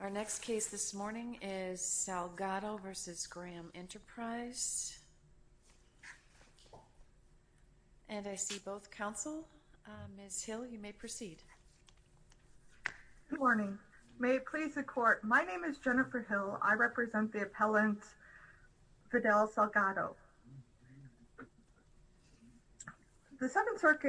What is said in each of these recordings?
Our next case this morning is Salgado v. Graham Enterprise. And I see both counsel. Ms. Hill, you may proceed. Good morning. May it please the court, my name is Jennifer Hill. I represent the appellant Fidel Salgado. The Second District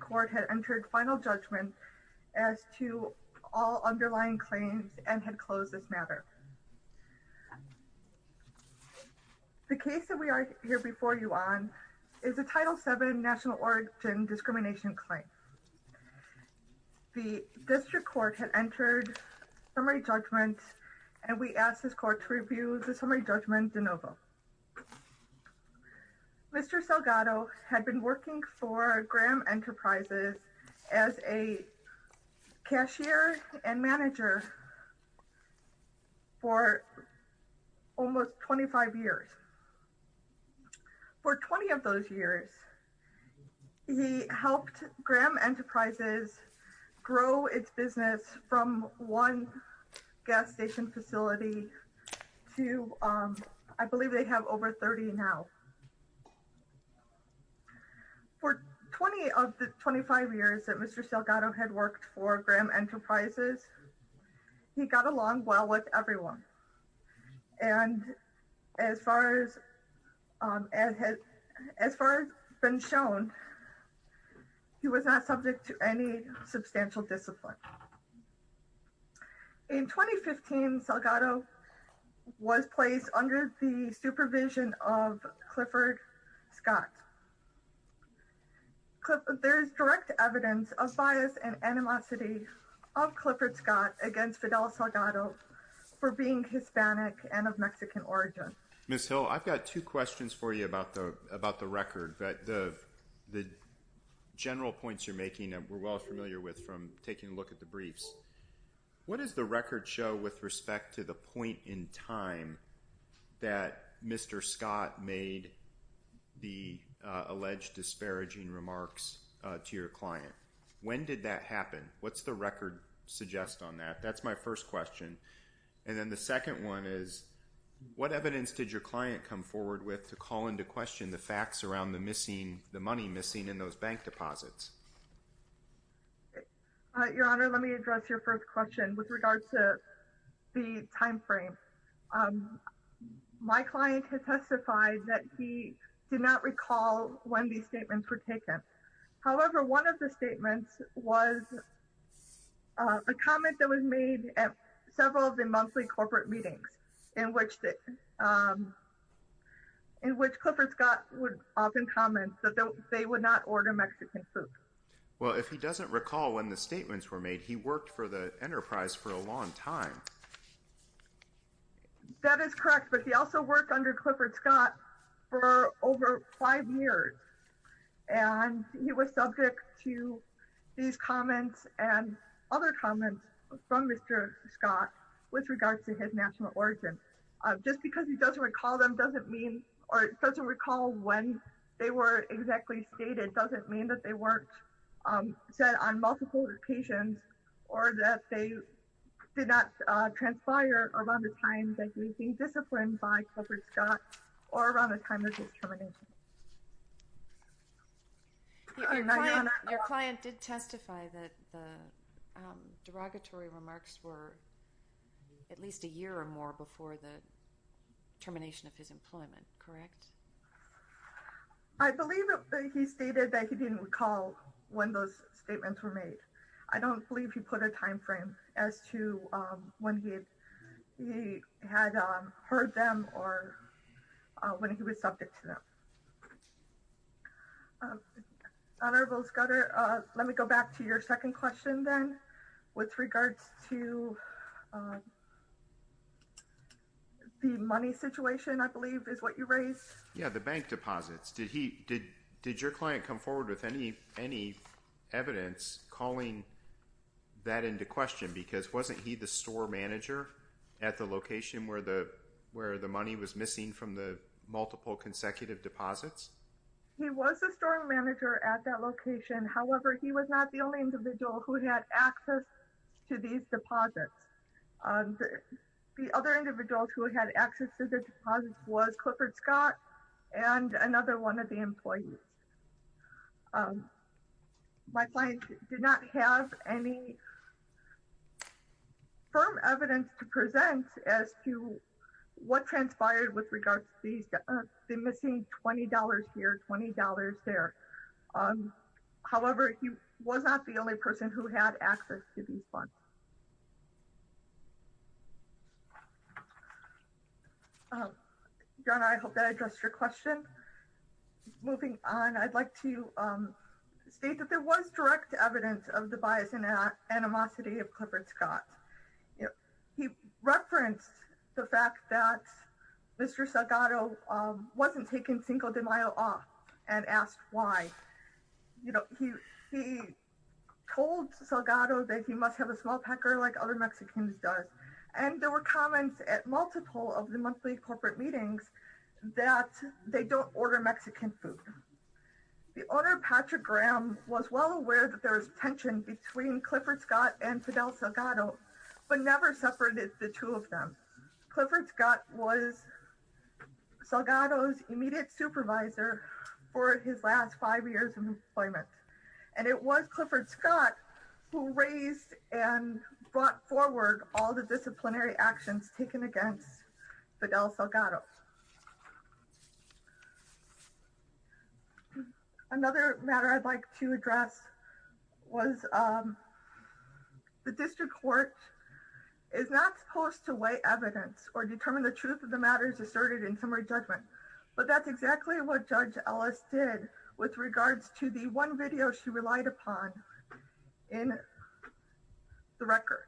Court had entered final judgment as to all underlying claims and had closed this matter. The case that we are here before you on is a Title VII National Origin Discrimination Claim. The District Court had entered summary judgment and we ask this court to review the case. Mr. Salgado has been working for Graham Enterprises as a cashier and manager for almost 25 years. For 20 of those years, he helped Graham Enterprises grow its business from one gas station facility to, I believe they have over 30 now. For 20 of the 25 years that Mr. Salgado had worked for Graham Enterprises, he got along well with everyone. And as far as has been shown, he was not subject to any substantial discipline. In 2015, Salgado was placed under the supervision of Clifford Scott. There is direct evidence of bias and animosity of Clifford Scott against Fidel Salgado for being Hispanic and of Mexican origin. Ms. Hill, I've got two questions for you about the record. The general points you're making that we're well familiar with from taking a look at the briefs. What does the record show with respect to the point in time that Mr. Scott made the alleged disparaging remarks to your client? When did that happen? What's the record suggest on that? That's my first question. And then the second one is, what evidence did your client come forward with to call into question the facts around the money missing in those bank deposits? Your Honor, let me address your first question with regard to the time frame. My client has testified that he did not recall when these statements were taken. However, one of the several of the monthly corporate meetings in which Clifford Scott would often comment that they would not order Mexican food. Well, if he doesn't recall when the statements were made, he worked for the enterprise for a long time. That is correct, but he also worked under Clifford Scott for over five years. And he was subject to these comments and other comments from Mr. Scott with regards to his national origin. Just because he doesn't recall them doesn't mean or doesn't recall when they were exactly stated doesn't mean that they weren't said on multiple occasions or that did not transpire around the time that he was being disciplined by Clifford Scott or around the time of his termination. Your client did testify that the derogatory remarks were at least a year or more before the termination of his employment, correct? I believe that he stated that he didn't recall when those statements were made. I don't believe he put a time frame as to when he had heard them or when he was subject to them. Honorable Scudder, let me go back to your second question then with regards to the money situation I believe is what you raised. Yeah, the bank deposits. Did your client come that into question because wasn't he the store manager at the location where the money was missing from the multiple consecutive deposits? He was a store manager at that location. However, he was not the only individual who had access to these deposits. The other individual who had access to the deposits was Clifford Scott and another one of the employees. My client did not have any firm evidence to present as to what transpired with regards to the missing $20 here, $20 there. However, he was not the only person who had access to these funds. John, I hope that addressed your question. Moving on, I'd like to state that there was direct evidence of the bias and animosity of Clifford Scott. He referenced the fact that Mr. Salgado wasn't taking Cinco de Mayo off and asked why. He told Salgado that he must have a small packer like other Mexicans does and there were comments at multiple of the monthly corporate meetings that they don't order Mexican food. The owner, Patrick Graham, was well aware that there was tension between Clifford Scott and Fidel Salgado but never separated the two of them. Clifford Scott was Salgado's immediate supervisor for his last five years of employment and it was Clifford Scott who raised and brought forward all the disciplinary actions taken against Fidel Salgado. Another matter I'd like to address was the district court is not supposed to weigh evidence or determine the truth of the matters asserted in summary judgment but that's exactly what Judge Ellis did with regards to the one video she relied upon in the record.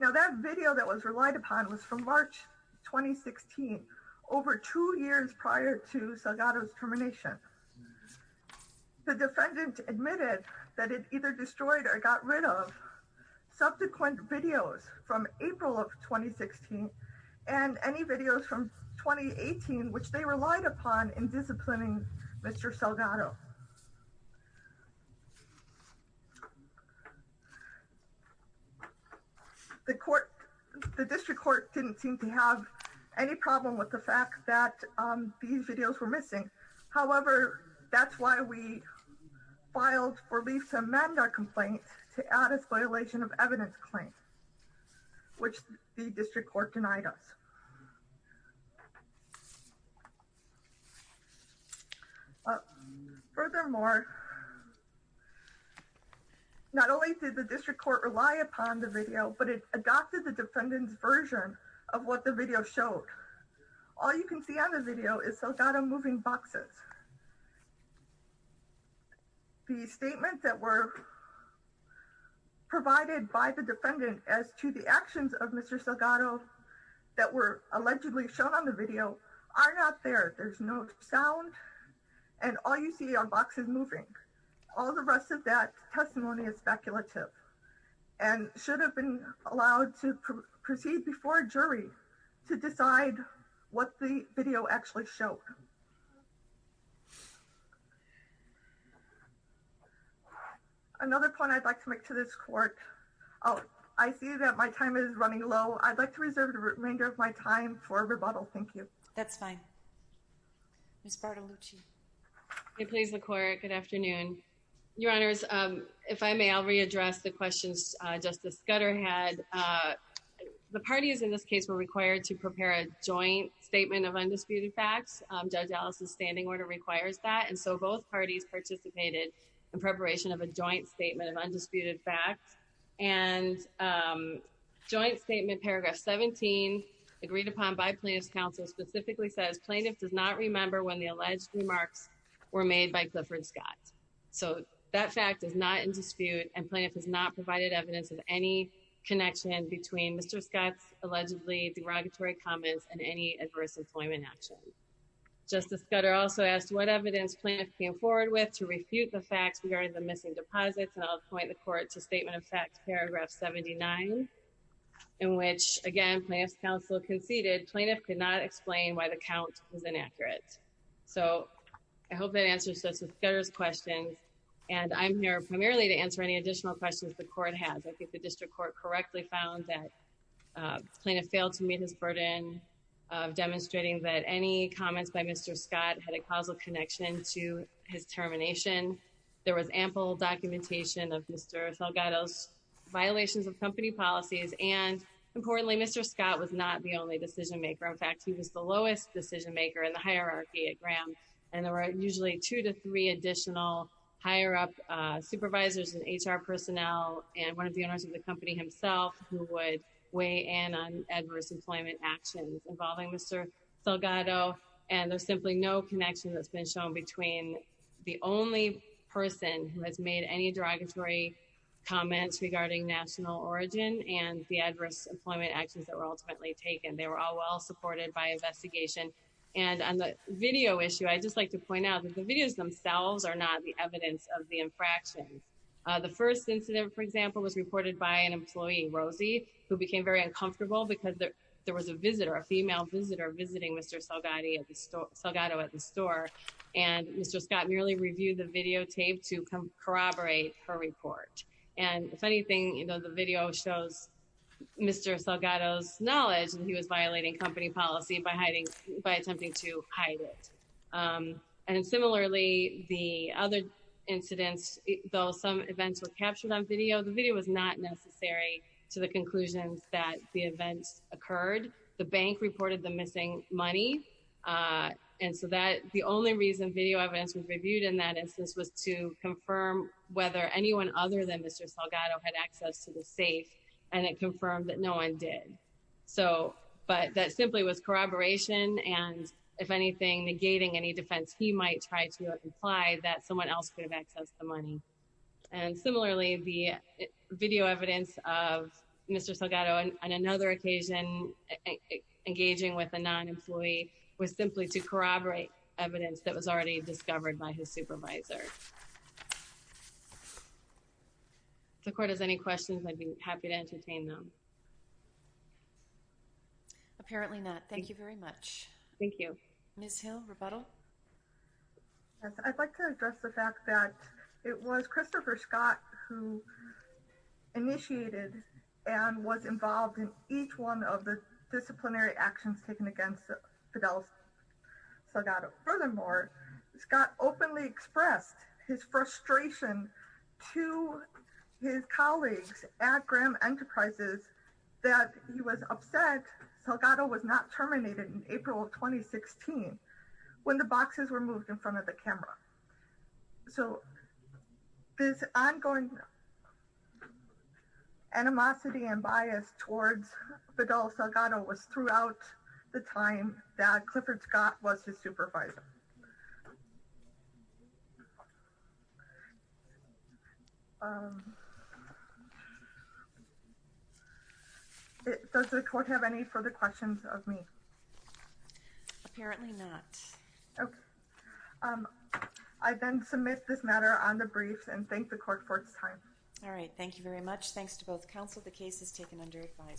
Now that video that was relied upon was from March 2016 over two years prior to Salgado's termination. The defendant admitted that it either destroyed or got rid of subsequent videos from April of 2016 and any videos from 2018 which they relied upon in disciplining Mr. Salgado. The court the district court didn't seem to have any problem with the fact that these videos were missing however that's why we filed for lease amendment complaint to add a spoliation of evidence claim which the district court denied us. Furthermore not only did the district court rely upon the video but it adopted the defendant's version of what the video showed. All you can see on the video is Salgado moving boxes. The statement that were provided by the defendant as to the actions of Mr. Salgado that were allegedly shown on the video are not there. There's no sound and all you see are boxes moving. All the rest of that testimony is speculative and should have been allowed to proceed before a jury to decide what the video actually showed. Another point I'd like to make to this court oh I see that my time is running low I'd like to reserve the remainder of my time for rebuttal thank you. That's fine. Ms. Bartolucci. Hey please the court good afternoon. Your honors if I may I'll readdress the questions Justice Scudder had. The parties in this case were required to prepare a joint statement of undisputed facts. Judge standing order requires that and so both parties participated in preparation of a joint statement of undisputed facts and joint statement paragraph 17 agreed upon by plaintiff's counsel specifically says plaintiff does not remember when the alleged remarks were made by Clifford Scott. So that fact is not in dispute and plaintiff has not provided evidence of any connection between Mr. Scott's allegedly derogatory comments and any adverse employment action. Justice Scudder also asked what evidence plaintiff came forward with to refute the facts regarding the missing deposits and I'll point the court to statement of fact paragraph 79 in which again plaintiff's counsel conceded plaintiff could not explain why the count was inaccurate. So I hope that answers Justice Scudder's questions and I'm here primarily to answer any additional questions the court has. I think the district court correctly found that plaintiff failed to meet his burden of demonstrating that any comments by Mr. Scott had a causal connection to his termination. There was ample documentation of Mr. Salgado's violations of company policies and importantly Mr. Scott was not the only decision maker. In fact he was the lowest decision maker in the hierarchy at Graham and there were usually two to three additional higher-up supervisors and HR personnel and one of the owners of the company himself who would weigh in on adverse employment actions involving Mr. Salgado and there's simply no connection that's been shown between the only person who has made any derogatory comments regarding national origin and the adverse employment actions that were ultimately taken. They were all well supported by investigation and on the video issue I'd just like to point out that the videos themselves are not the evidence of the infractions. The first incident for example was reported by an employee, Rosie, who became very uncomfortable because there was a visitor, a female visitor, visiting Mr. Salgado at the store and Mr. Scott merely reviewed the videotape to corroborate her report and if anything you know the video shows Mr. Salgado's knowledge that he was violating company policy by attempting to hide it. And similarly the other incidents though some events were captured on video the video was not necessary to the conclusions that the events occurred. The bank reported the missing money and so that the only reason video evidence was reviewed in that instance was to confirm whether anyone other than Mr. Salgado had access to the safe and it confirmed that no one did. So but that any defense he might try to imply that someone else could have accessed the money. And similarly the video evidence of Mr. Salgado on another occasion engaging with a non-employee was simply to corroborate evidence that was already discovered by his supervisor. If the court has any questions I'd be happy to entertain them. Apparently not. Thank you very much. Thank you. Ms. Hill, rebuttal. I'd like to address the fact that it was Christopher Scott who initiated and was involved in each one of the disciplinary actions taken against Fidel Salgado. Furthermore Scott openly expressed his frustration to his colleagues at Graham Enterprises that he was upset Salgado was not terminated in April of 2016 when the boxes were moved in front of the camera. So this ongoing animosity and bias towards Fidel Salgado was throughout the time that Clifford Scott was his supervisor. Does the court have any further questions of me? Apparently not. Okay. I then submit this matter on the briefs and thank the court for its time. All right. Thank you very much. Thanks to both counsel. The case is taken under advice.